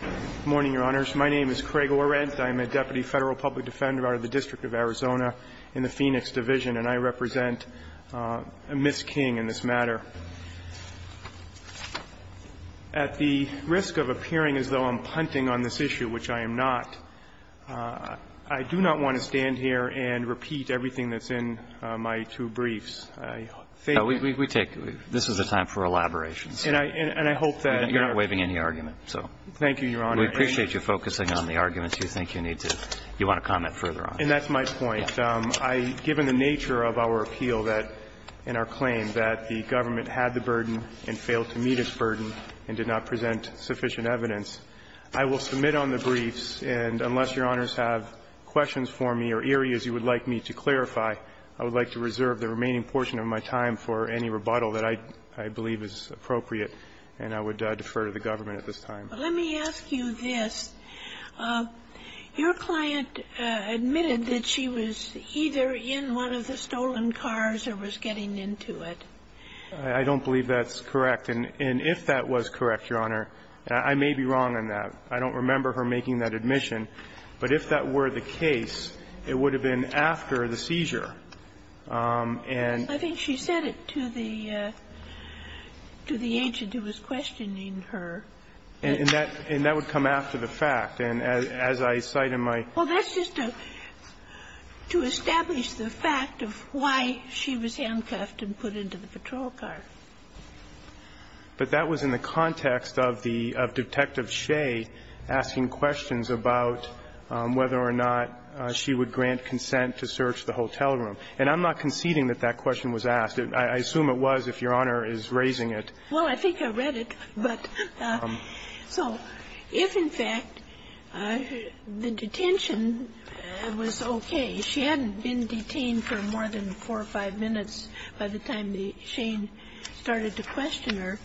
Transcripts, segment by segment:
Good morning, Your Honors. My name is Craig Orent. I am a Deputy Federal Public Defender out of the District of Arizona in the Phoenix Division, and I represent Ms. King in this matter. At the risk of appearing as though I'm punting on this issue, which I am not, I do not want to stand here and repeat everything that's in my two briefs. We take this as a time for elaboration. And I hope that you're not waiving any argument. Thank you, Your Honor. We appreciate you focusing on the arguments you think you need to comment further on. And that's my point. Given the nature of our appeal and our claim that the government had the burden and failed to meet its burden and did not present sufficient evidence, I will submit on the briefs, and unless Your Honors have questions for me or areas you would like me to clarify, I would like to reserve the remaining portion of my time for any rebuttal that I believe is appropriate. And I would defer to the government at this time. But let me ask you this. Your client admitted that she was either in one of the stolen cars or was getting into it. I don't believe that's correct. And if that was correct, Your Honor, I may be wrong on that. I don't remember her making that admission. But if that were the case, it would have been after the seizure. And I think she said it to the agent who was questioning her. And that would come after the fact. And as I cite in my question. Well, that's just to establish the fact of why she was handcuffed and put into the patrol car. But that was in the context of Detective Shea asking questions about whether or not she would grant consent to search the hotel room. And I'm not conceding that that question was asked. I assume it was if Your Honor is raising it. Well, I think I read it. But so if, in fact, the detention was okay, she hadn't been detained for more than four or five minutes by the time Shane started to question her.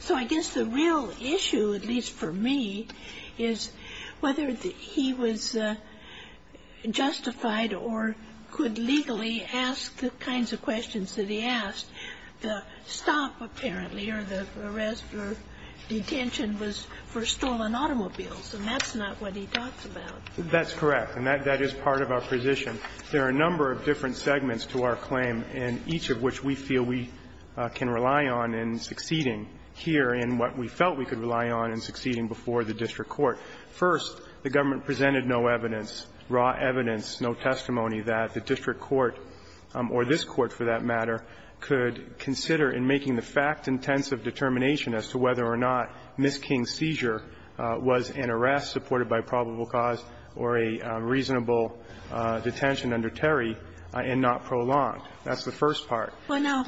So I guess the real issue, at least for me, is whether he was justified or could legally ask the kinds of questions that he asked. The stop, apparently, or the arrest or detention was for stolen automobiles. And that's not what he talks about. That's correct. And that is part of our position. There are a number of different segments to our claim, and each of which we feel we can rely on in succeeding here in what we felt we could rely on in succeeding before the district court. First, the government presented no evidence, raw evidence, no testimony that the district court, or this Court for that matter, could consider in making the fact-intensive determination as to whether or not Ms. King's seizure was an arrest supported by probable cause or a reasonable detention under Terry and not prolonged. That's the first part. Well, now,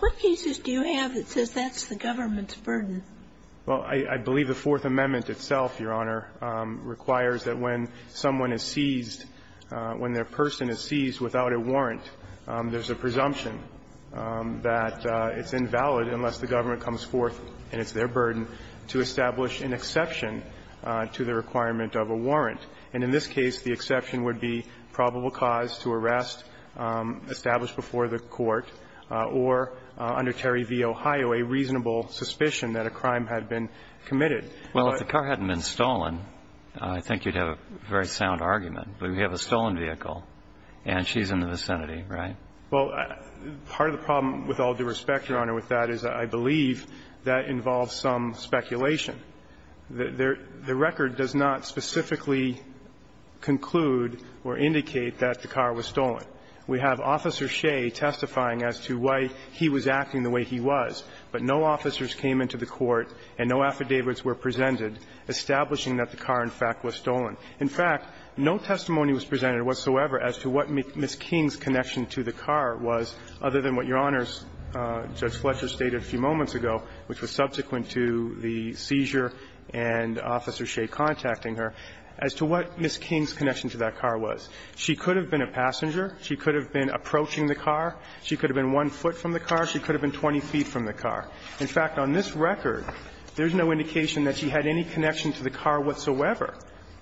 what cases do you have that says that's the government's burden? Well, I believe the Fourth Amendment itself, Your Honor, requires that when someone is seized, when their person is seized without a warrant, there's a presumption that it's invalid unless the government comes forth, and it's their burden, to establish an exception to the requirement of a warrant. And in this case, the exception would be probable cause to arrest established before the court or under Terry v. Ohio, a reasonable suspicion that a crime had been committed. Well, if the car hadn't been stolen, I think you'd have a very sound argument. But we have a stolen vehicle, and she's in the vicinity, right? Well, part of the problem, with all due respect, Your Honor, with that is I believe that involves some speculation. The record does not specifically conclude or indicate that the car was stolen. We have Officer Shea testifying as to why he was acting the way he was, but no officers came into the court and no affidavits were presented establishing that the car, in fact, was stolen. In fact, no testimony was presented whatsoever as to what Ms. King's connection to the car was, other than what Your Honors, Judge Fletcher, stated a few moments ago, which was subsequent to the seizure and Officer Shea contacting her, as to what Ms. King's connection to that car was. She could have been a passenger. She could have been approaching the car. She could have been one foot from the car. She could have been 20 feet from the car. In fact, on this record, there's no indication that she had any connection to the car whatsoever.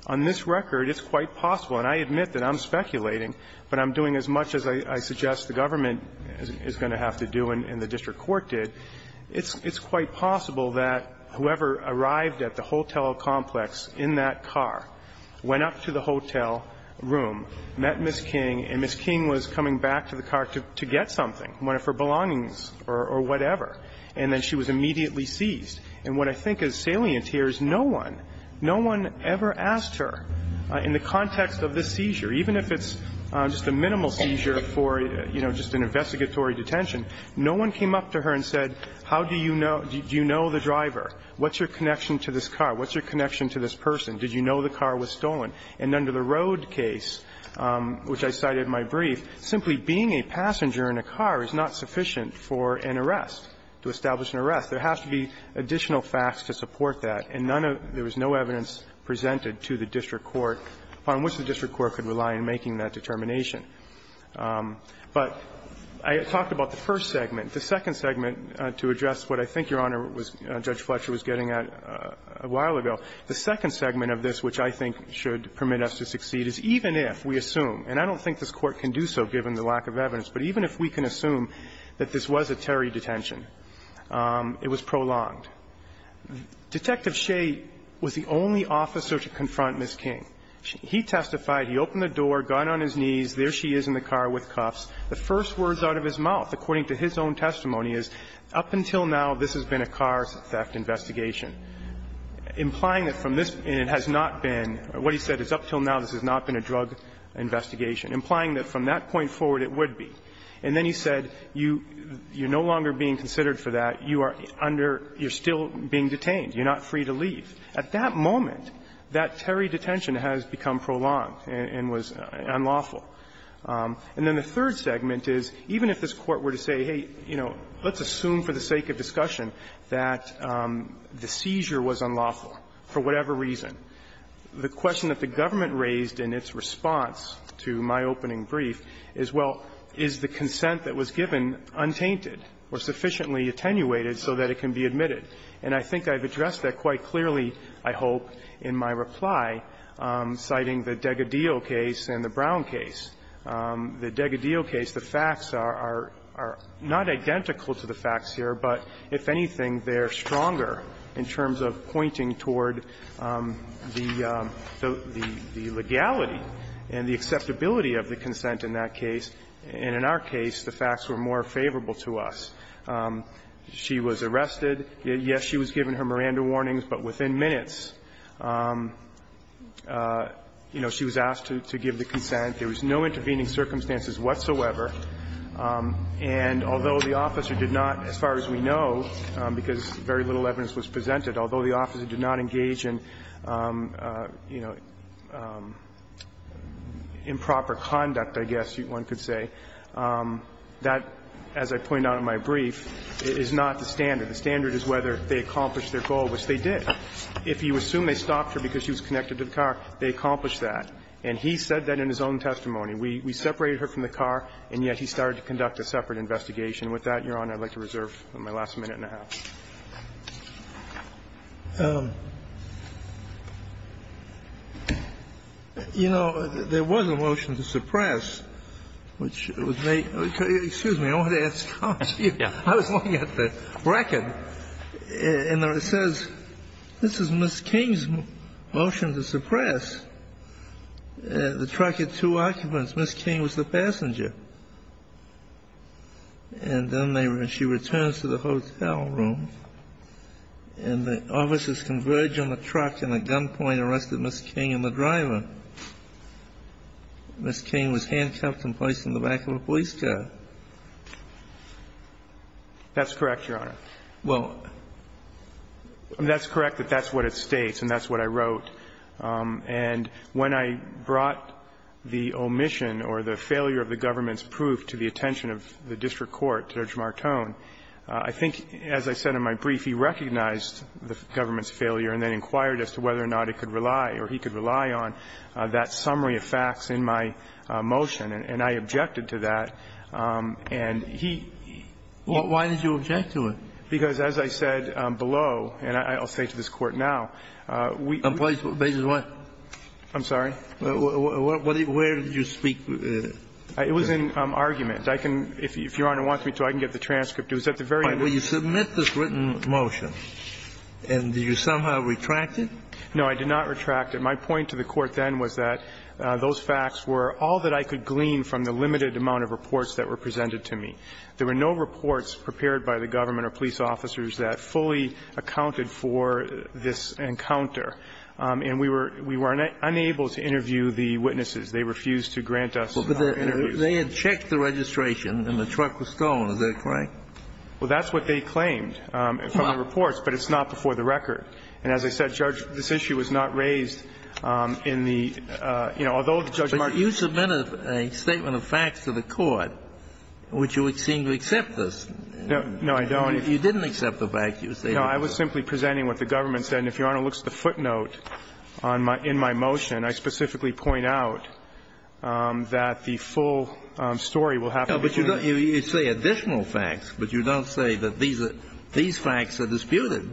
On this record, it's quite possible, and I admit that I'm speculating, but I'm doing as much as I suggest the government is going to have to do and the district court did. It's quite possible that whoever arrived at the hotel complex in that car went up to the hotel room, met Ms. King, and Ms. King was coming back to the car to get something, one of her belongings or whatever. And then she was immediately seized. And what I think is salient here is no one, no one ever asked her, in the context of this seizure, even if it's just a minimal seizure for, you know, just an investigatory detention, no one came up to her and said, how do you know, do you know the driver? What's your connection to this car? What's your connection to this person? Did you know the car was stolen? And under the road case, which I cited in my brief, simply being a passenger in a car is not sufficient for an arrest, to establish an arrest. There has to be additional facts to support that, and none of there was no evidence presented to the district court on which the district court could rely in making that determination. But I talked about the first segment. The second segment, to address what I think Your Honor was Judge Fletcher was getting at a while ago, the second segment of this, which I think should permit us to succeed, is even if we assume, and I don't think this Court can do so given the lack of evidence, but even if we can assume that this was a Terry detention, it was prolonged. Detective Shea was the only officer to confront Ms. King. He testified, he opened the door, gun on his knees, there she is in the car with cuffs. The first words out of his mouth, according to his own testimony, is, up until now, this has been a car theft investigation, implying that from this, and it has not been, what he said is, up until now, this has not been a drug investigation, implying that from that point forward, it would be. And then he said, you're no longer being considered for that, you are under, you're still being detained, you're not free to leave. At that moment, that Terry detention has become prolonged and was unlawful. And then the third segment is, even if this Court were to say, hey, you know, let's assume for the sake of discussion that the seizure was unlawful, for whatever reason, the question that the government raised in its response to my opening brief is, well, is the consent that was given untainted or sufficiently attenuated so that it can be admitted? And I think I've addressed that quite clearly, I hope, in my reply, citing the D'Agadillo case and the Brown case. The D'Agadillo case, the facts are not identical to the facts here, but if anything, they're stronger in terms of pointing toward the legality and the acceptability of the consent in that case. And in our case, the facts were more favorable to us. She was arrested. Yes, she was given her Miranda warnings, but within minutes, you know, she was asked to give the consent. There was no intervening circumstances whatsoever. And although the officer did not, as far as we know, because very little evidence was presented, although the officer did not engage in, you know, improper conduct, I guess one could say, that, as I point out in my brief, is not the standard. The standard is whether they accomplished their goal, which they did. If you assume they stopped her because she was connected to the car, they accomplished that. And he said that in his own testimony. We separated her from the car, and yet he started to conduct a separate investigation. With that, Your Honor, I'd like to reserve my last minute and a half. You know, there was a motion to suppress, which was made to the Court of Appeals. Excuse me, I wanted to ask you. I was looking at the record, and it says, this is Ms. King's motion to suppress. The truck had two occupants. Ms. King was the passenger. And then she returns to the hotel room, and the officers converge on the truck, and at gunpoint arrested Ms. King and the driver. Ms. King was handcuffed and placed in the back of a police car. That's correct, Your Honor. Well, that's correct that that's what it states, and that's what I wrote. And when I brought the omission or the failure of the government's proof to the attention of the district court, Judge Martone, I think, as I said in my brief, he recognized the government's failure and then inquired as to whether or not it could rely or he could rely on that summary of facts in my motion, and I objected to that. And he he Why did you object to it? Because, as I said below, and I'll say to this Court now, we I'm sorry? Where did you speak? It was in argument. I can, if Your Honor wants me to, I can get the transcript. It was at the very end. But you submit this written motion, and did you somehow retract it? No, I did not retract it. My point to the Court then was that those facts were all that I could glean from the limited amount of reports that were presented to me. There were no reports prepared by the government or police officers that fully accounted for this encounter, and we were unable to interview the witnesses. They refused to grant us an interview. Well, but they had checked the registration and the truck was stolen. Is that correct? Well, that's what they claimed from the reports, but it's not before the record. And as I said, Judge, this issue was not raised in the you know, although the Judge Martone But you submitted a statement of facts to the Court, which you would seem to accept this. No, I don't. You didn't accept the fact you stated. I was simply presenting what the government said. And if Your Honor looks at the footnote on my – in my motion, I specifically point out that the full story will have to be clear. No, but you say additional facts, but you don't say that these facts are disputed.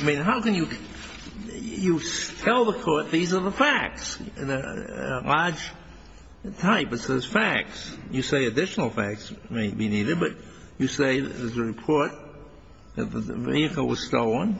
I mean, how can you – you tell the Court these are the facts, a large type that says facts. You say additional facts may be needed, but you say in the report that the vehicle was stolen.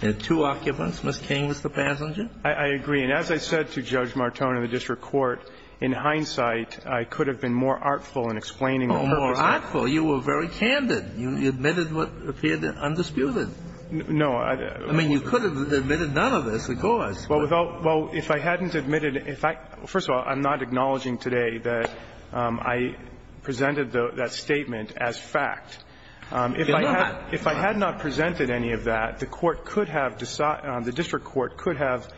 There are two occupants, Ms. King was the passenger. I agree. And as I said to Judge Martone in the district court, in hindsight, I could have been more artful in explaining all those facts. More artful. You were very candid. You admitted what appeared undisputed. No, I – I mean, you could have admitted none of this, of course. Well, Your Honor, if I had not presented any of that, the court could have – the district court could have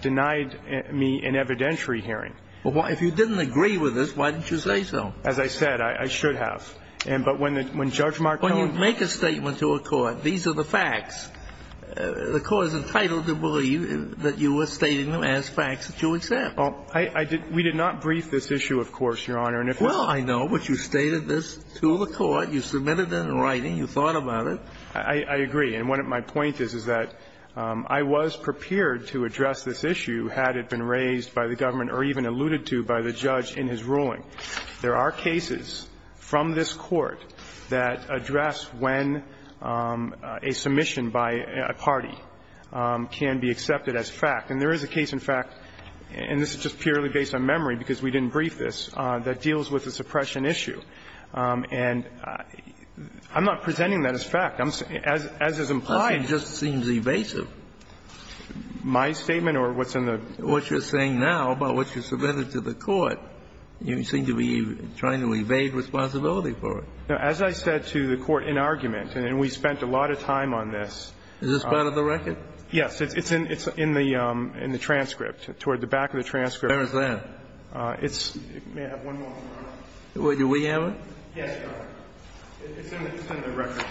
denied me an evidentiary hearing. Well, if you didn't agree with this, why didn't you say so? As I said, I should have. But when Judge Martone – When you make a statement to a court, these are the facts, the court is entitled to believe that you were stating them as facts that you accept. Well, I did – we did not brief this issue, of course, Your Honor, and if it's – Well, I know, but you stated this to the court, you submitted it in writing, you thought about it. I agree. And what my point is, is that I was prepared to address this issue had it been raised by the government or even alluded to by the judge in his ruling. There are cases from this Court that address when a submission by a party can be accepted as fact. And there is a case, in fact, and this is just purely based on memory because we didn't brief this, that deals with the suppression issue. And I'm not presenting that as fact. As is implied – The question just seems evasive. My statement or what's in the – What you're saying now about what you submitted to the court, you seem to be trying to evade responsibility for it. As I said to the court in argument, and we spent a lot of time on this – Is this part of the record? Yes. It's in the transcript, toward the back of the transcript. Where is that? It's – may I have one moment? Do we have it? Yes, Your Honor. It's in the record.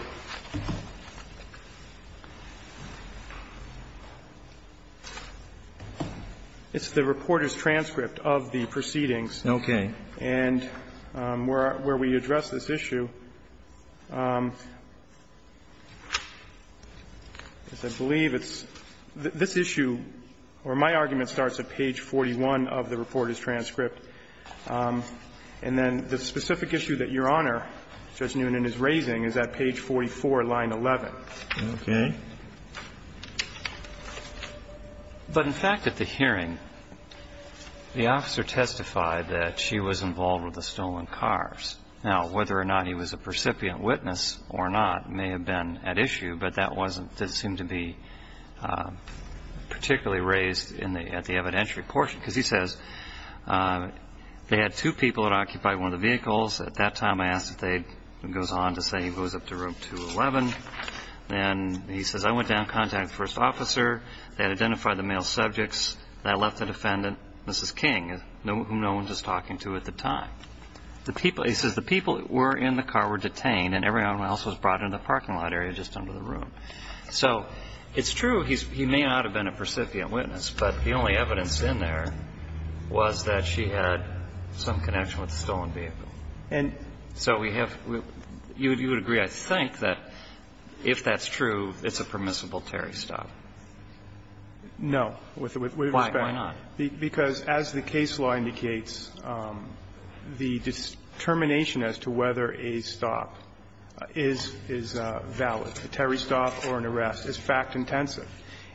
It's the reporter's transcript of the proceedings. Okay. And where we address this issue, as I believe it's – this issue, or my argument starts at page 41 of the reporter's transcript. And then the specific issue that Your Honor, Judge Newnan, is raising is at page 44, line 11. Okay. But in fact, at the hearing, the officer testified that she was involved with the stolen cars. Now, whether or not he was a percipient witness or not may have been at issue, but that wasn't – didn't seem to be particularly raised in the – at the evidentiary portion. Because he says they had two people that occupied one of the vehicles. At that time, I asked if they – he goes on to say he goes up to room 211. And he says, I went down, contacted the first officer. They had identified the male subjects. I left the defendant, Mrs. King, whom no one was talking to at the time. The people – he says the people that were in the car were detained, and everyone else was brought into the parking lot area just under the room. So it's true he may not have been a percipient witness, but the only evidence in there was that she had some connection with the stolen vehicle. And so we have – you would agree, I think, that if that's true, it's a permissible Terry stop. No. With respect to the case law indicates the determination as to whether a stop is valid, a Terry stop or an arrest, is fact-intensive.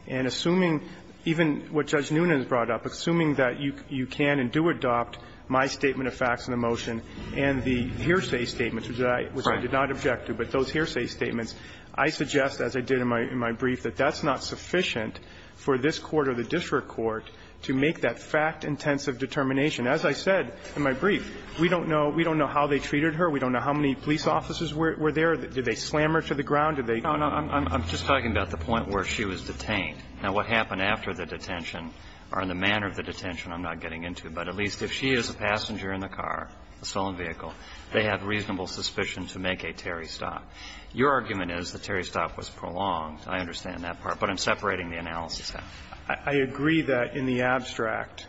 And assuming even what Judge Noonan has brought up, assuming that you can and do adopt my statement of facts in the motion and the hearsay statements, which I did not object to, but those hearsay statements, I suggest, as I did in my brief, that that's not sufficient for this Court or the district court to make that fact-intensive determination. As I said in my brief, we don't know – we don't know how they treated her. We don't know how many police officers were there. Did they slam her to the ground? Did they – No, no, I'm just talking about the point where she was detained. Now, what happened after the detention or in the manner of the detention I'm not getting into, but at least if she is a passenger in the car, a stolen vehicle, they have reasonable suspicion to make a Terry stop. Your argument is the Terry stop was prolonged. I understand that part, but I'm separating the analysis now. I agree that in the abstract,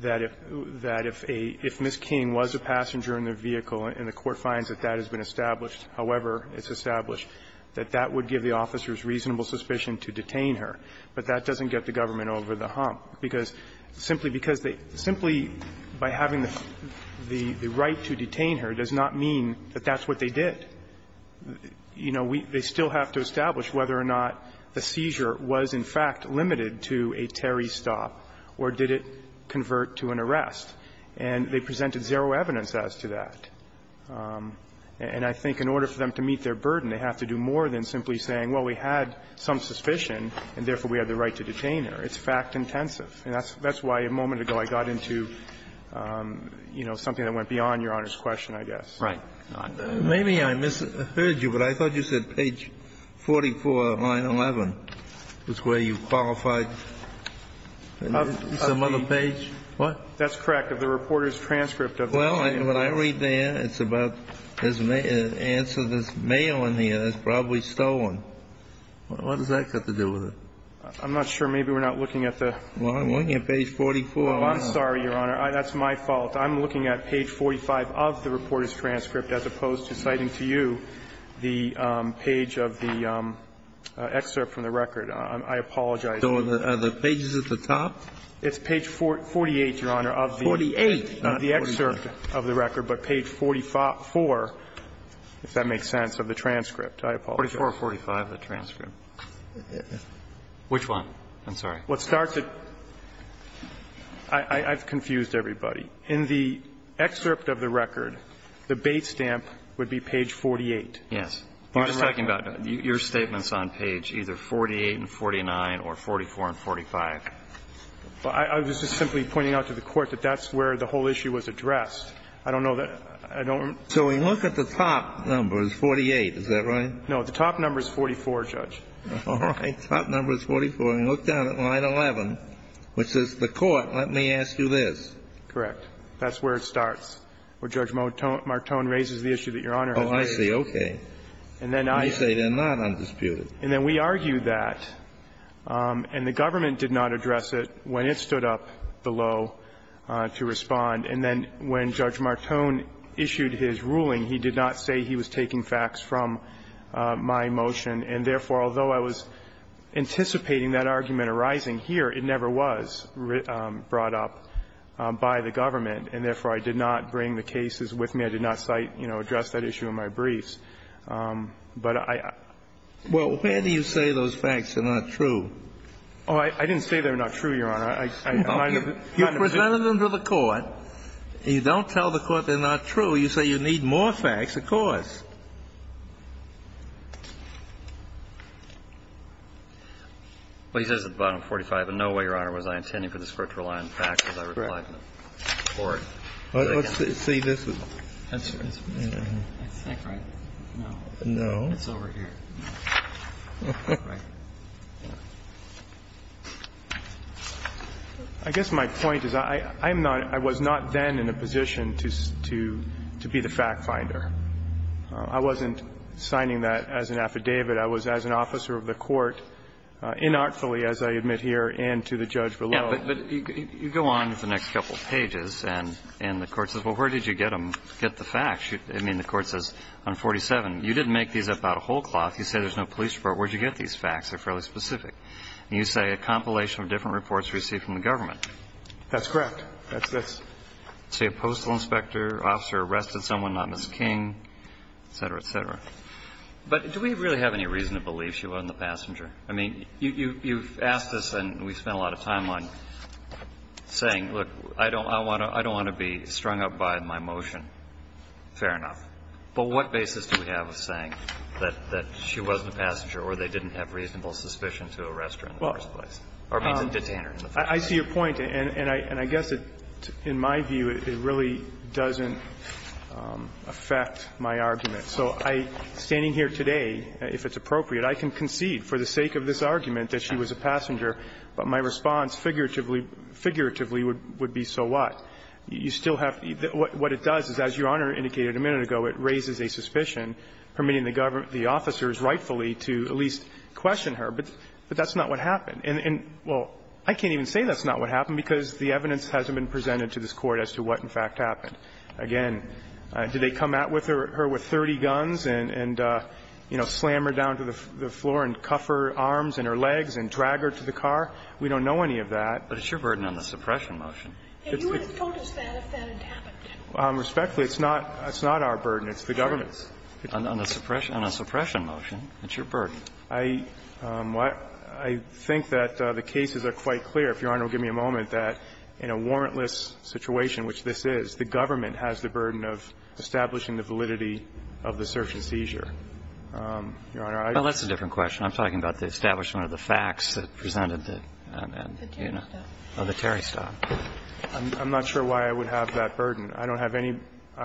that if – that if a – if Ms. King was a passenger in their vehicle and the court finds that that has been established, however it's established, that that would give the officers reasonable suspicion to detain her. But that doesn't get the government over the hump, because simply because they – simply by having the right to detain her does not mean that that's what they did. You know, we – they still have to establish whether or not the seizure was in fact limited to a Terry stop or did it convert to an arrest. And they presented zero evidence as to that. And I think in order for them to meet their burden, they have to do more than simply saying, well, we had some suspicion, and therefore we have the right to detain her. It's fact intensive. And that's why a moment ago I got into, you know, something that went beyond Your Honor's question, I guess. Right. Maybe I misheard you, but I thought you said page 44, line 11, is where you qualified some other page. What? That's correct. Of the reporter's transcript of the scene. Well, what I read there, it's about his answer. There's mail in here that's probably stolen. What does that have to do with it? I'm not sure. Maybe we're not looking at the – Well, I'm looking at page 44. I'm sorry, Your Honor. That's my fault. I'm looking at page 45 of the reporter's transcript as opposed to citing to you the page of the excerpt from the record. I apologize. So are the pages at the top? It's page 48, Your Honor, of the – 48, not 48. Of the excerpt of the record, but page 44, if that makes sense, of the transcript. I apologize. Page 445 of the transcript. Which one? I'm sorry. Well, it starts at – I've confused everybody. In the excerpt of the record, the base stamp would be page 48. Yes. You're just talking about your statements on page either 48 and 49 or 44 and 45. I was just simply pointing out to the Court that that's where the whole issue was addressed. I don't know that – I don't – So we look at the top number, it's 48. Is that right? No. The top number is 44, Judge. All right. Top number is 44. And you look down at line 11, which says, the Court, let me ask you this. Correct. That's where it starts, where Judge Martone raises the issue that Your Honor has raised. Oh, I see. Okay. And then I – You say they're not undisputed. And then we argue that, and the government did not address it when it stood up the law to respond. And then when Judge Martone issued his ruling, he did not say he was taking facts from my motion, and therefore, although I was anticipating that argument arising here, it never was brought up by the government, and therefore, I did not bring the cases with me. I did not cite, you know, address that issue in my briefs. But I – Well, where do you say those facts are not true? Oh, I didn't say they're not true, Your Honor. I kind of – You presented them to the Court. You don't tell the Court they're not true. You say you need more facts, of course. Well, he says at the bottom, 45, in no way, Your Honor, was I intending for this Court to rely on facts as I replied to the Court. Correct. Let's see. See, this is – That's right. That's not correct. No. No. It's over here. Right. I guess my point is I am not – I was not then in a position to be the fact finder. I wasn't signing that as an affidavit. I was as an officer of the Court, inartfully, as I admit here, and to the judge below. Yeah, but you go on for the next couple of pages, and the Court says, well, where did you get them, get the facts? I mean, the Court says on 47, you didn't make these up out of whole cloth. You say there's no police report. Where did you get these facts? They're fairly specific. And you say a compilation of different reports received from the government. That's correct. That's this. Say a postal inspector officer arrested someone, not Ms. King, et cetera, et cetera. But do we really have any reason to believe she wasn't the passenger? I mean, you've asked this, and we've spent a lot of time on it, saying, look, I don't want to be strung up by my motion. Fair enough. But what basis do we have of saying that she wasn't the passenger or they didn't have reasonable suspicion to arrest her in the first place? Or, I mean, the detainer in the first place? I see your point, and I guess it, in my view, it really doesn't affect my argument. So I, standing here today, if it's appropriate, I can concede for the sake of this argument that she was a passenger, but my response figuratively would be, so what? You still have to be the – what it does is, as Your Honor indicated a minute ago, it raises a suspicion, permitting the government, the officers, rightfully to at least question her, but that's not what happened. And, well, I can't even say that's not what happened, because the evidence hasn't been presented to this Court as to what, in fact, happened. Again, did they come at her with 30 guns and, you know, slam her down to the floor and cuff her arms and her legs and drag her to the car? We don't know any of that. But it's your burden on the suppression motion. And you would have told us that if that had happened. Respectfully, it's not – it's not our burden. It's the government's. On the suppression – on a suppression motion, it's your burden. I – I think that the cases are quite clear, if Your Honor will give me a moment, that in a warrantless situation, which this is, the government has the burden of establishing the validity of the search and seizure. Your Honor, I don't think that's the case. Well, that's a different question. I'm talking about the establishment of the facts that presented the, you know, the Terry stop. I'm not sure why I would have that burden. I don't have any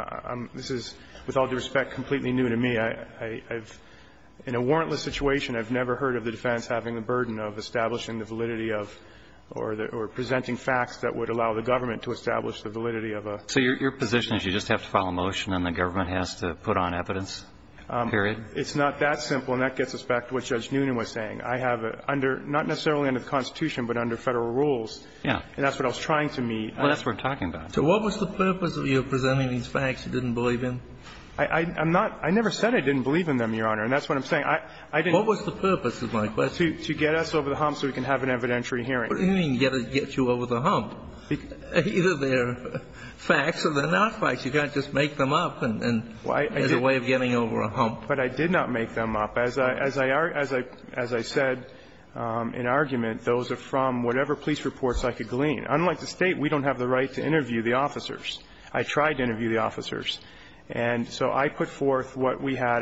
– this is, with all due respect, completely new to me. I've – in a warrantless situation, I've never heard of the defense having the burden of establishing the validity of – or presenting facts that would allow the government to establish the validity of a – So your position is you just have to file a motion and the government has to put on evidence, period? It's not that simple. And that gets us back to what Judge Noonan was saying. I have a – under – not necessarily under the Constitution, but under Federal rules. Yeah. And that's what I was trying to meet. Well, that's what we're talking about. So what was the purpose of your presenting these facts you didn't believe in? I'm not – I never said I didn't believe in them, Your Honor. And that's what I'm saying. I didn't – What was the purpose is my question. To get us over the hump so we can have an evidentiary hearing. What do you mean, get you over the hump? Either they're facts or they're not facts. You can't just make them up and – Well, I did – As a way of getting over a hump. But I did not make them up. As I – as I said in argument, those are from whatever police reports I could glean. Unlike the State, we don't have the right to interview the officers. I tried to interview the officers. And so I put forth what we had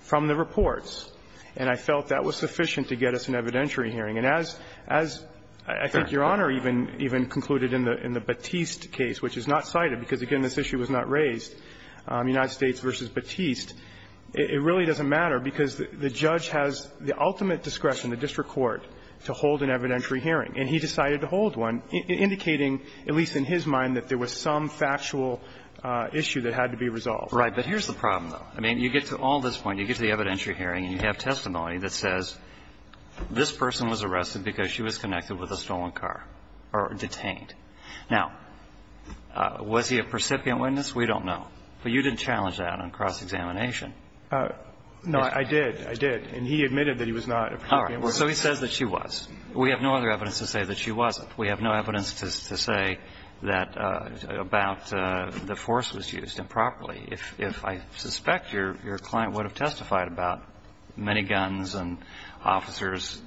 from the reports. And I felt that was sufficient to get us an evidentiary hearing. And as – as I think Your Honor even concluded in the Batiste case, which is not cited because, again, this issue was not raised, United States v. Batiste, it really doesn't matter because the judge has the ultimate discretion, the district court, to hold an evidentiary hearing. And he decided to hold one, indicating, at least in his mind, that there was some factual issue that had to be resolved. Right. But here's the problem, though. I mean, you get to all this point, you get to the evidentiary hearing, and you have testimony that says this person was arrested because she was connected with a stolen car or detained. Now, was he a precipient witness? We don't know. But you didn't challenge that on cross-examination. No, I did. I did. And he admitted that he was not a precipient witness. All right. So he says that she was. We have no other evidence to say that she wasn't. We have no evidence to say that – about the force was used improperly. If I suspect your client would have testified about many guns and officers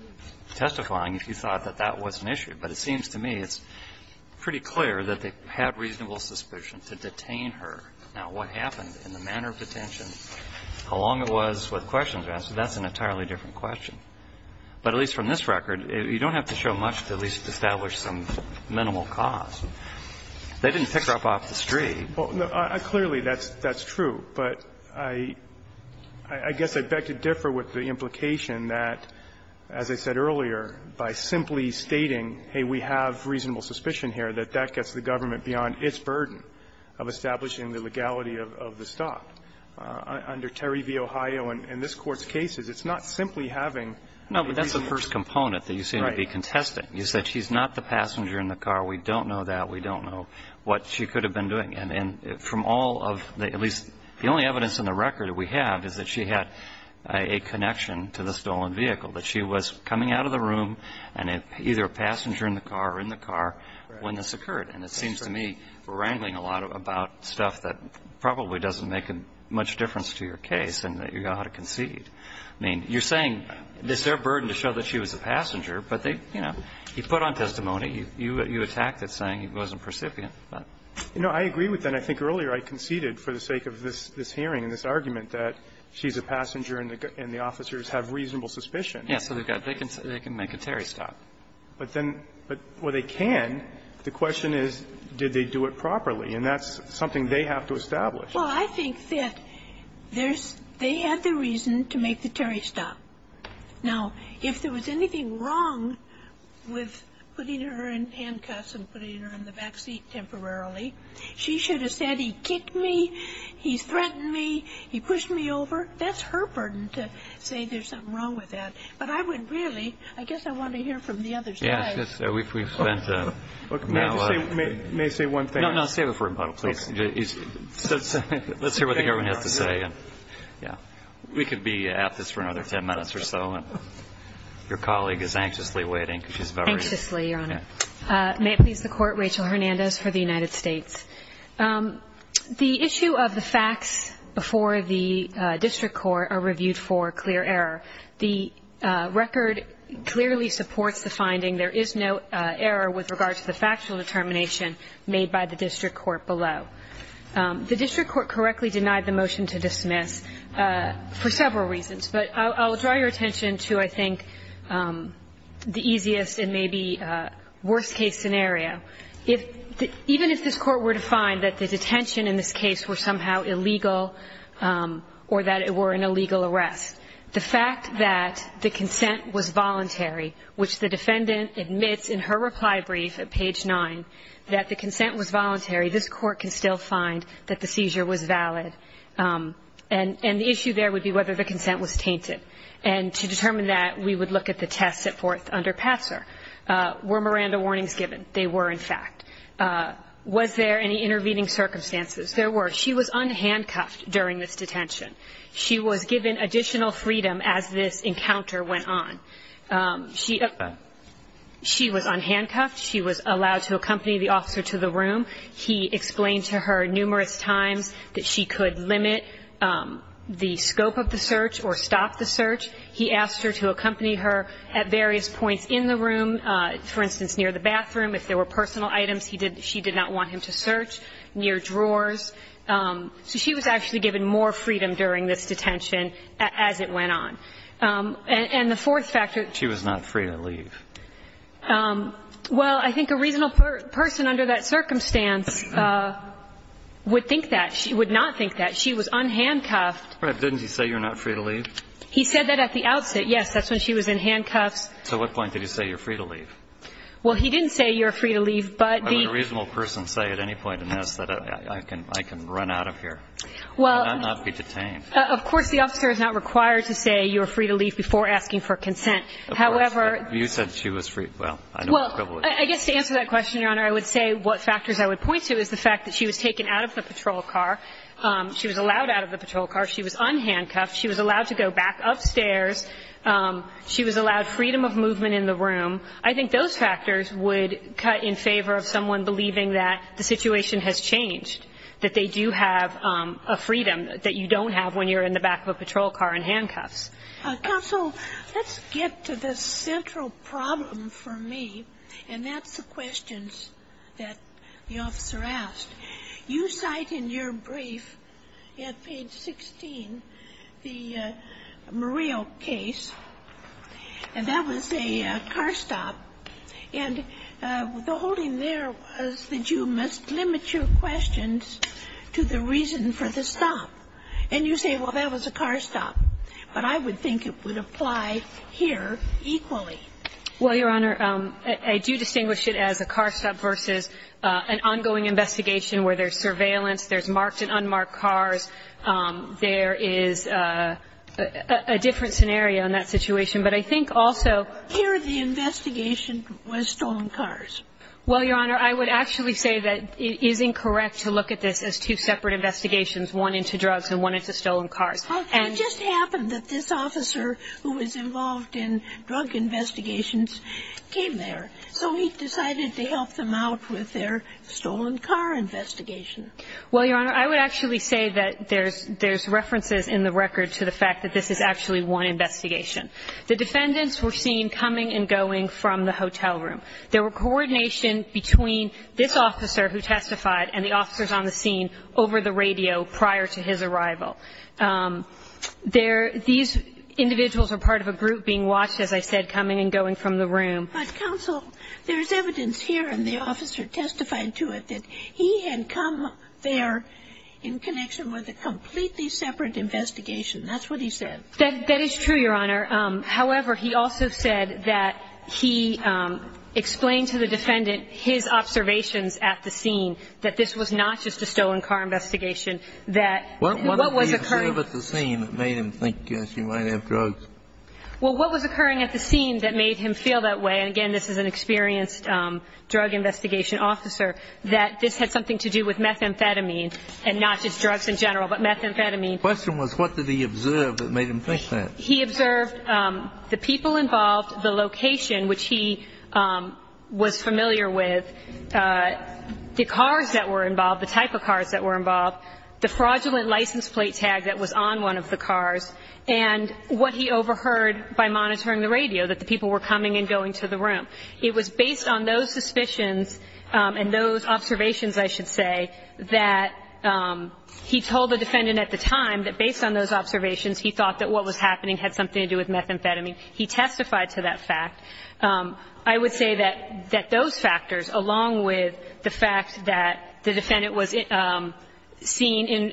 testifying if you thought that that was an issue. But it seems to me it's pretty clear that they had reasonable suspicion to detain her. Now, what happened in the manner of detention, how long it was, what questions were asked, that's an entirely different question. But at least from this record, you don't have to show much to at least establish some minimal cause. They didn't pick her up off the street. Well, clearly that's true. But I guess I'd beg to differ with the implication that, as I said earlier, by simply its burden of establishing the legality of the stop, under Terry v. Ohio and this Court's cases, it's not simply having a reasonable suspicion. No, but that's the first component that you seem to be contesting, is that she's not the passenger in the car. We don't know that. We don't know what she could have been doing. And from all of the – at least the only evidence in the record that we have is that she had a connection to the stolen vehicle, that she was coming out of the room and either a passenger in the car or in the car when this occurred. And it seems to me we're wrangling a lot about stuff that probably doesn't make much difference to your case and that you've got to concede. I mean, you're saying it's their burden to show that she was a passenger, but they – you know, you put on testimony. You attacked it saying it wasn't precipitant. You know, I agree with that. I think earlier I conceded for the sake of this hearing and this argument that she's a passenger and the officers have reasonable suspicion. Yes, so they've got – they can make a Terry stop. But then – but – well, they can. The question is, did they do it properly? And that's something they have to establish. Well, I think that there's – they had the reason to make the Terry stop. Now, if there was anything wrong with putting her in handcuffs and putting her in the back seat temporarily, she should have said, he kicked me, he threatened me, he pushed me over. That's her burden to say there's something wrong with that. But I would really – I guess I want to hear from the other side. Yes, we've spent a – May I say one thing? No, no, save it for a bundle, please. Let's hear what the government has to say. We could be at this for another 10 minutes or so, and your colleague is anxiously waiting because she's very – Anxiously, Your Honor. May it please the Court, Rachel Hernandez for the United States. The issue of the facts before the district court are reviewed for clear error. The record clearly supports the finding there is no error with regard to the factual determination made by the district court below. The district court correctly denied the motion to dismiss for several reasons. But I'll draw your attention to, I think, the easiest and maybe worst-case scenario. If – even if this court were to find that the detention in this case were somehow illegal or that it were an illegal arrest, the fact that the consent was voluntary, which the defendant admits in her reply brief at page 9 that the consent was voluntary, this court can still find that the seizure was valid. And the issue there would be whether the consent was tainted. And to determine that, we would look at the test set forth under Patser. Were Miranda warnings given? They were, in fact. Was there any intervening circumstances? There were. She was unhandcuffed during this detention. She was given additional freedom as this encounter went on. She – she was unhandcuffed. She was allowed to accompany the officer to the room. He explained to her numerous times that she could limit the scope of the search or stop the search. He asked her to accompany her at various points in the room, for instance, near the bathroom. If there were personal items, he did – she did not want him to search. Near drawers. So she was actually given more freedom during this detention as it went on. And the fourth factor. She was not free to leave. Well, I think a reasonable person under that circumstance would think that. She would not think that. She was unhandcuffed. Right. But didn't he say you're not free to leave? He said that at the outset, yes. That's when she was in handcuffs. So at what point did he say you're free to leave? Well, he didn't say you're free to leave. Would a reasonable person say at any point in this that I can run out of here and not be detained? Of course, the officer is not required to say you're free to leave before asking for consent. Of course. However. You said she was free. Well, I know her privilege. I guess to answer that question, Your Honor, I would say what factors I would point to is the fact that she was taken out of the patrol car. She was allowed out of the patrol car. She was unhandcuffed. She was allowed to go back upstairs. She was allowed freedom of movement in the room. I think those factors would cut in favor of someone believing that the situation has changed, that they do have a freedom that you don't have when you're in the back of a patrol car in handcuffs. Counsel, let's get to the central problem for me, and that's the questions that the officer asked. You cite in your brief at page 16 the Murillo case, and that was a car stop. And the holding there was that you must limit your questions to the reason for the stop. And you say, well, that was a car stop. But I would think it would apply here equally. Well, Your Honor, I do distinguish it as a car stop versus an ongoing investigation where there's surveillance, there's marked and unmarked cars. There is a different scenario in that situation. But I think also here the investigation was stolen cars. Well, Your Honor, I would actually say that it is incorrect to look at this as two separate investigations, one into drugs and one into stolen cars. It just happened that this officer who was involved in drug investigations came there. So he decided to help them out with their stolen car investigation. Well, Your Honor, I would actually say that there's references in the record to the fact that this is actually one investigation. The defendants were seen coming and going from the hotel room. There were coordination between this officer who testified and the officers on the scene over the radio prior to his arrival. There, these individuals are part of a group being watched, as I said, coming and going from the room. But counsel, there's evidence here and the officer testified to it that he had come there in connection with a completely separate investigation. That's what he said. That is true, Your Honor. However, he also said that he explained to the defendant his observations at the scene that this was not just a stolen car investigation. What did he observe at the scene that made him think she might have drugs? Well, what was occurring at the scene that made him feel that way? And again, this is an experienced drug investigation officer, that this had something to do with methamphetamine and not just drugs in general, but methamphetamine. Question was, what did he observe that made him think that? He observed the people involved, the location, which he was familiar with, the cars that were involved, the type of cars that were involved, the fraudulent license plate tag that was on one of the cars, and what he overheard by monitoring the radio, that the people were coming and going to the room. It was based on those suspicions and those observations, I should say, that he told the defendant at the time that based on those observations, he thought that what was happening had something to do with methamphetamine. He testified to that fact. I would say that those factors, along with the fact that the defendant was seen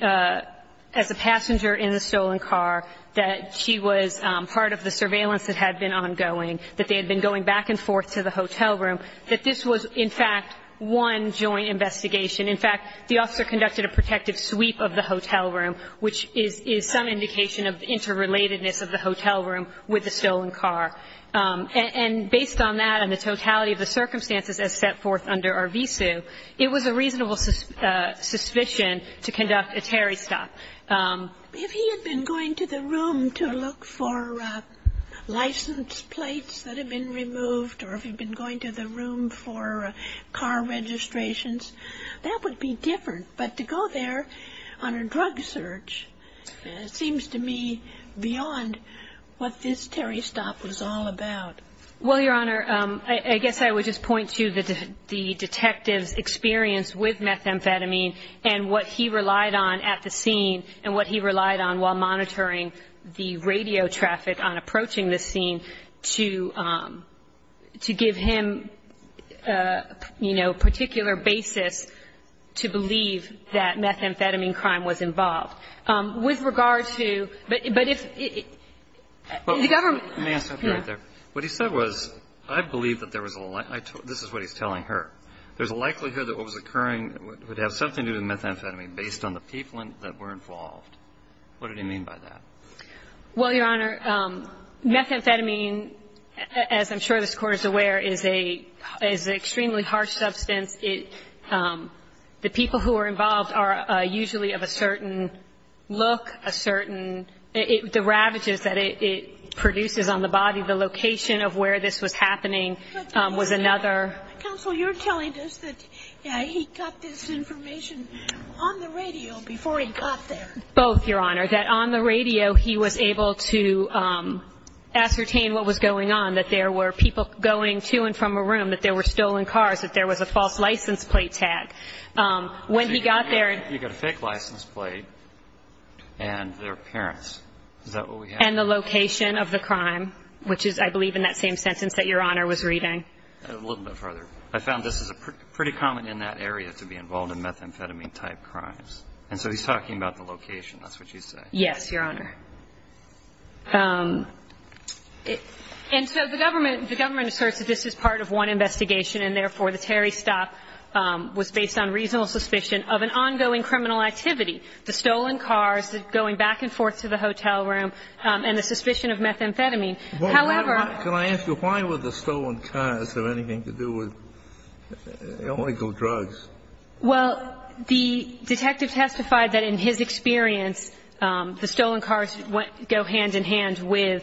as a passenger in a stolen car, that she was part of the surveillance that had been ongoing, that they had been going back and forth to the hotel room, that this was, in fact, one joint investigation. In fact, the officer conducted a protective sweep of the hotel room, which is some indication of interrelatedness of the hotel room with the stolen car. And based on that and the totality of the circumstances as set forth under RVSU, it was a reasonable suspicion to conduct a Terry stop. If he had been going to the room to look for license plates that had been removed or if he'd been going to the room for car registrations, that would be different. But to go there on a drug search seems to me beyond what this Terry stop was all about. Well, Your Honor, I guess I would just point to the detective's experience with methamphetamine and what he relied on at the scene and what he relied on while monitoring the radio traffic on approaching the scene to give him a particular basis to believe that methamphetamine crime was involved. With regard to the government ---- May I stop you right there? What he said was, I believe that there was a ---- this is what he's telling her. There's a likelihood that what was occurring would have something to do with methamphetamine based on the people that were involved. What did he mean by that? Well, Your Honor, methamphetamine, as I'm sure this Court is aware, is a ---- is an extremely harsh substance. It ---- the people who are involved are usually of a certain look, a certain ---- the ravages that it produces on the body, the location of where this was happening was another ---- Counsel, you're telling us that he got this information on the radio before he got there. Both, Your Honor, that on the radio he was able to ascertain what was going on, that there were people going to and from a room, that there were stolen cars, that there was a false license plate tag. When he got there ---- You got a fake license plate and their parents. Is that what we have? And the location of the crime, which is, I believe, in that same sentence that Your Honor was reading. A little bit further. I found this is a pretty common in that area to be involved in methamphetamine type crimes. And so he's talking about the location. That's what you say. Yes, Your Honor. And so the government, the government asserts that this is part of one investigation and, therefore, the Terry stop was based on reasonable suspicion of an ongoing criminal activity, the stolen cars going back and forth to the hotel room and the suspicion of methamphetamine. However ---- Well, can I ask you, why would the stolen cars have anything to do with illegal drugs? Well, the detective testified that in his experience, the stolen cars go hand in hand with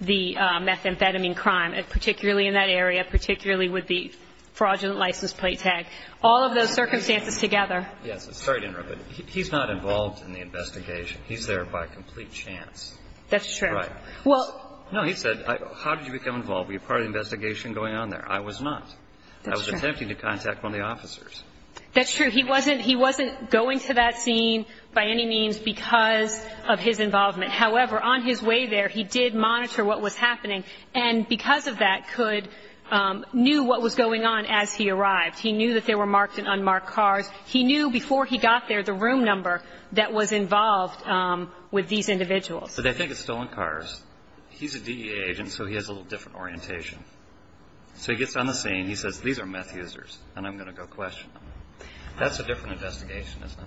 the methamphetamine crime, particularly in that area, particularly with the fraudulent license plate tag. All of those circumstances together. Yes, sorry to interrupt, but he's not involved in the investigation. He's there by complete chance. That's true. Right. Well, no, he said, how did you become involved? Were you part of the investigation going on there? I was not. I was attempting to contact one of the officers. That's true. He wasn't he wasn't going to that scene by any means because of his involvement. However, on his way there, he did monitor what was happening. And because of that, he knew what was going on as he arrived. He knew that there were marked and unmarked cars. He knew before he got there the room number that was involved with these individuals. So they think it's stolen cars. He's a DEA agent, so he has a little different orientation. So he gets on the scene. He says, these are meth users, and I'm going to go question them. That's a different investigation, isn't it?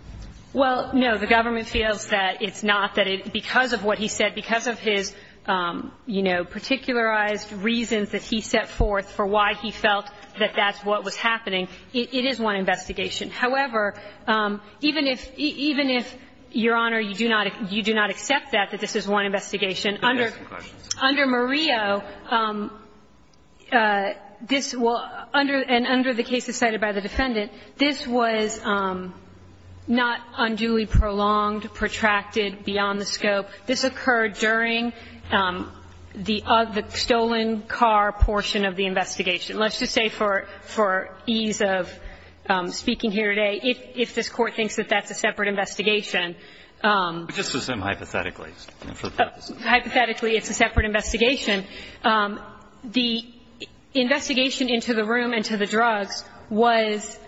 Well, no. The government feels that it's not, that because of what he said, because of his particularized reasons that he set forth for why he felt that that's what was happening, it is one investigation. However, even if, Your Honor, you do not accept that, that this is one investigation, under Murillo, this will, and under the cases cited by the defendant, this was not unduly prolonged, protracted, beyond the scope. This occurred during the stolen car portion of the investigation. Let's just say for ease of speaking here today, if this Court thinks that that's a separate investigation. But just assume hypothetically. Hypothetically, it's a separate investigation. The investigation into the room and to the drugs was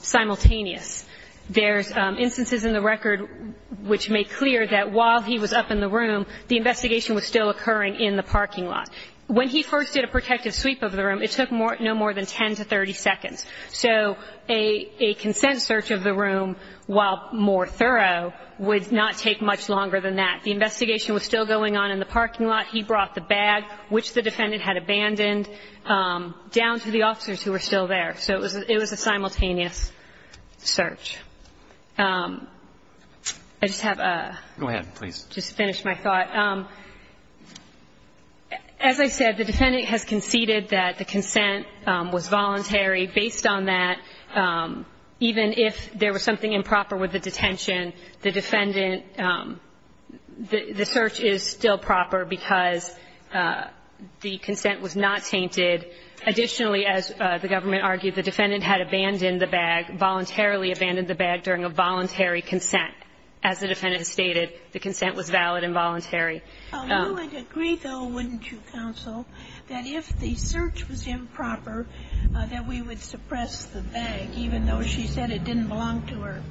simultaneous. There's instances in the record which make clear that while he was up in the room, the investigation was still occurring in the parking lot. When he first did a protective sweep of the room, it took no more than 10 to 30 seconds. So a consent search of the room, while more thorough, would not take much longer than that. The investigation was still going on in the parking lot. He brought the bag, which the defendant had abandoned, down to the officers who were still there. So it was a simultaneous search. I just have a... Go ahead, please. ...just to finish my thought. As I said, the defendant has conceded that the consent was voluntary. Based on that, even if there was something improper with the detention, the defendant the search is still proper because the consent was not tainted. Additionally, as the government argued, the defendant had abandoned the bag, voluntarily abandoned the bag during a voluntary consent. As the defendant stated, the consent was valid and voluntary. You would agree, though, wouldn't you, counsel, that if the search was improper, that we would suppress the bag, even though she said it didn't belong to her?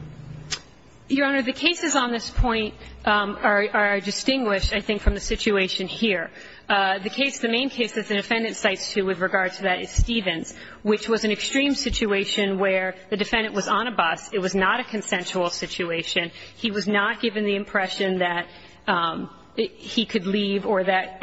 Your Honor, the cases on this point are distinguished, I think, from the situation here. The case, the main case that the defendant cites, too, with regard to that is Stevens, which was an extreme situation where the defendant was on a bus. It was not a consensual situation. He was not given the impression that he could leave or that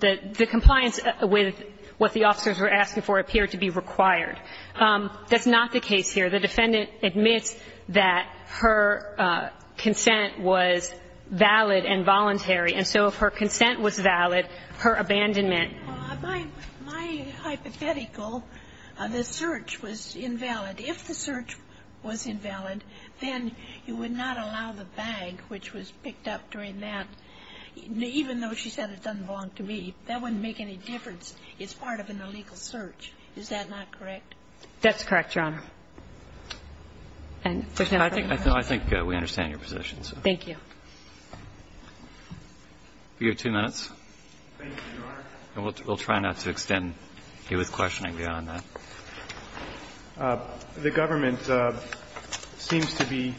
the compliance with what the officers were asking for appeared to be required. That's not the case here. The defendant admits that her consent was valid and voluntary. And so if her consent was valid, her abandonment. My hypothetical, the search was invalid. If the search was invalid, then you would not allow the bag, which was picked up during that, even though she said it doesn't belong to me. That wouldn't make any difference. It's part of an illegal search. Is that not correct? That's correct, Your Honor. And there's no further questions? I think we understand your position. Thank you. You have two minutes. Thank you, Your Honor. We'll try not to extend you with questioning beyond that. The government seems to be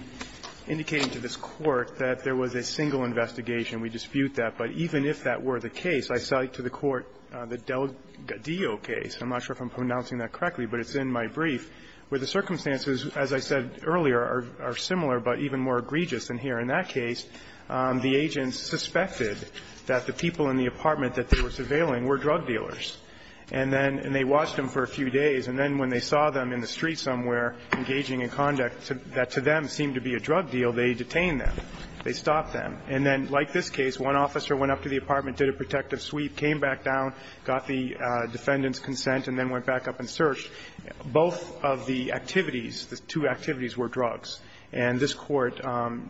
indicating to this Court that there was a single investigation. We dispute that. But even if that were the case, I cite to the Court the Delgadillo case. I'm not sure if I'm pronouncing that correctly, but it's in my brief, where they say the circumstances, as I said earlier, are similar, but even more egregious than here. In that case, the agents suspected that the people in the apartment that they were surveilling were drug dealers. And then they watched them for a few days, and then when they saw them in the street somewhere engaging in conduct that to them seemed to be a drug deal, they detained them. They stopped them. And then, like this case, one officer went up to the apartment, did a protective Both of the activities, the two activities, were drugs. And this Court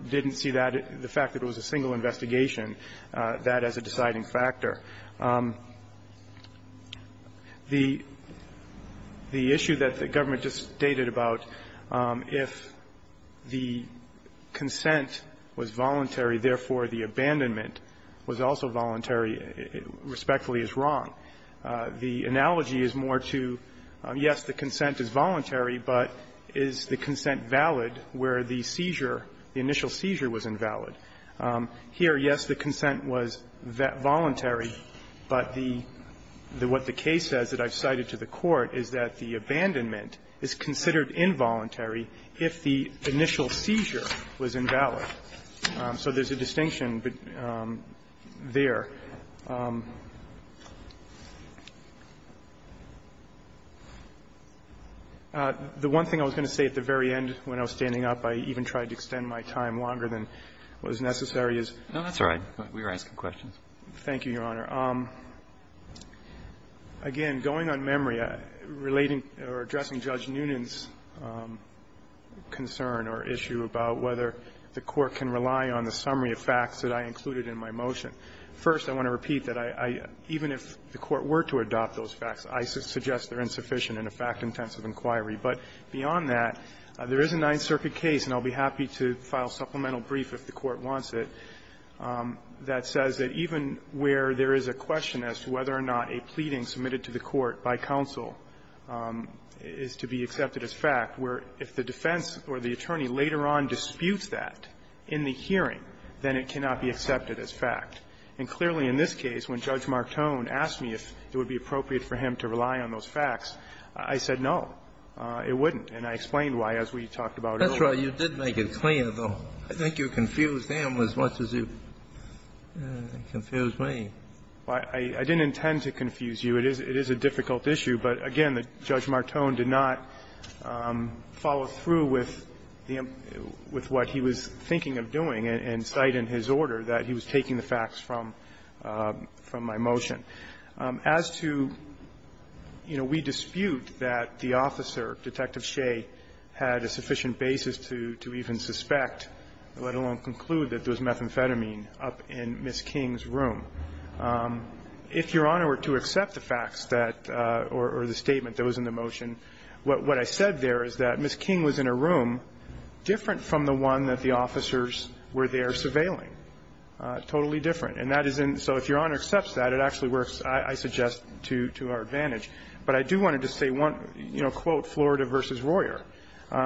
didn't see that, the fact that it was a single investigation, that as a deciding factor. The issue that the government just stated about, if the consent was voluntary, therefore the abandonment was also voluntary, respectfully is wrong. The analogy is more to, yes, the consent is voluntary, but is the consent valid where the seizure, the initial seizure was invalid? Here, yes, the consent was voluntary, but the what the case says that I've cited to the Court is that the abandonment is considered involuntary if the initial seizure was invalid. So there's a distinction there. The one thing I was going to say at the very end when I was standing up, I even tried to extend my time longer than was necessary, is no, that's all right. We were asking questions. Thank you, Your Honor. Again, going on memory, relating or addressing Judge Noonan's concern or issue about whether the Court can rely on the summary of facts that I included in my motion. First, I want to repeat that I even if the Court were to adopt those facts, I suggest they're insufficient in a fact-intensive inquiry. But beyond that, there is a Ninth Circuit case, and I'll be happy to file supplemental brief if the Court wants it, that says that even where there is a question as to whether or not a pleading submitted to the Court by counsel is to be accepted as fact, where if the defense or the attorney later on disputes that in the hearing, then it cannot be accepted as fact. And clearly in this case, when Judge Martone asked me if it would be appropriate for him to rely on those facts, I said no, it wouldn't. And I explained why as we talked about earlier. Kennedy. That's right. You did make it clear, though. I think you confused them as much as you confused me. Well, I didn't intend to confuse you. It is a difficult issue. But again, Judge Martone did not follow through with what he was thinking of doing and cite in his order that he was taking the facts from my motion. As to, you know, we dispute that the officer, Detective Shea, had a sufficient basis to even suspect, let alone conclude, that there was methamphetamine up in Ms. King's room. If Your Honor were to accept the facts that or the statement that was in the motion, what I said there is that Ms. King was in a room different from the one that the defendants were there surveilling, totally different. And that is in so if Your Honor accepts that, it actually works, I suggest, to our advantage. But I do want to just say one, you know, quote, Florida v. Royer,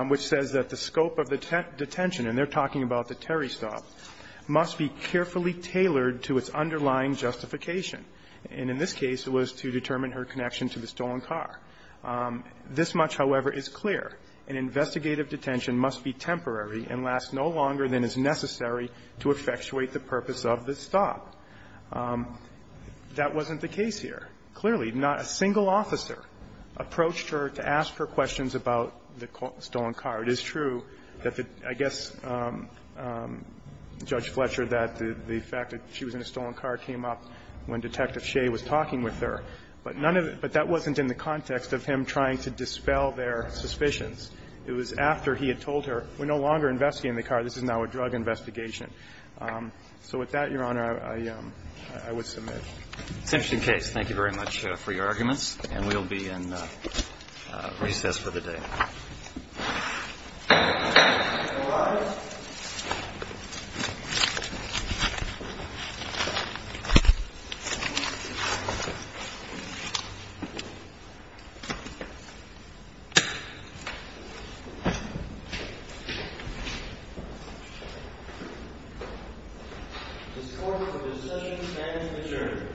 which says that the scope of the detention, and they're talking about the Terry stop, must be carefully tailored to its underlying justification. And in this case, it was to determine her connection to the stolen car. This much, however, is clear. An investigative detention must be temporary and last no longer than is necessary to effectuate the purpose of the stop. That wasn't the case here. Clearly, not a single officer approached her to ask her questions about the stolen car. It is true that the – I guess Judge Fletcher, that the fact that she was in a stolen car came up when Detective Shea was talking with her. But none of it – but that wasn't in the context of him trying to dispel their suspicions. It was after he had told her, we're no longer investigating the car. This is now a drug investigation. So with that, Your Honor, I would submit. Roberts. Thank you very much for your arguments. And we'll be in recess for the day. Your score for this session stands adjourned. For more information visit www.FEMA.gov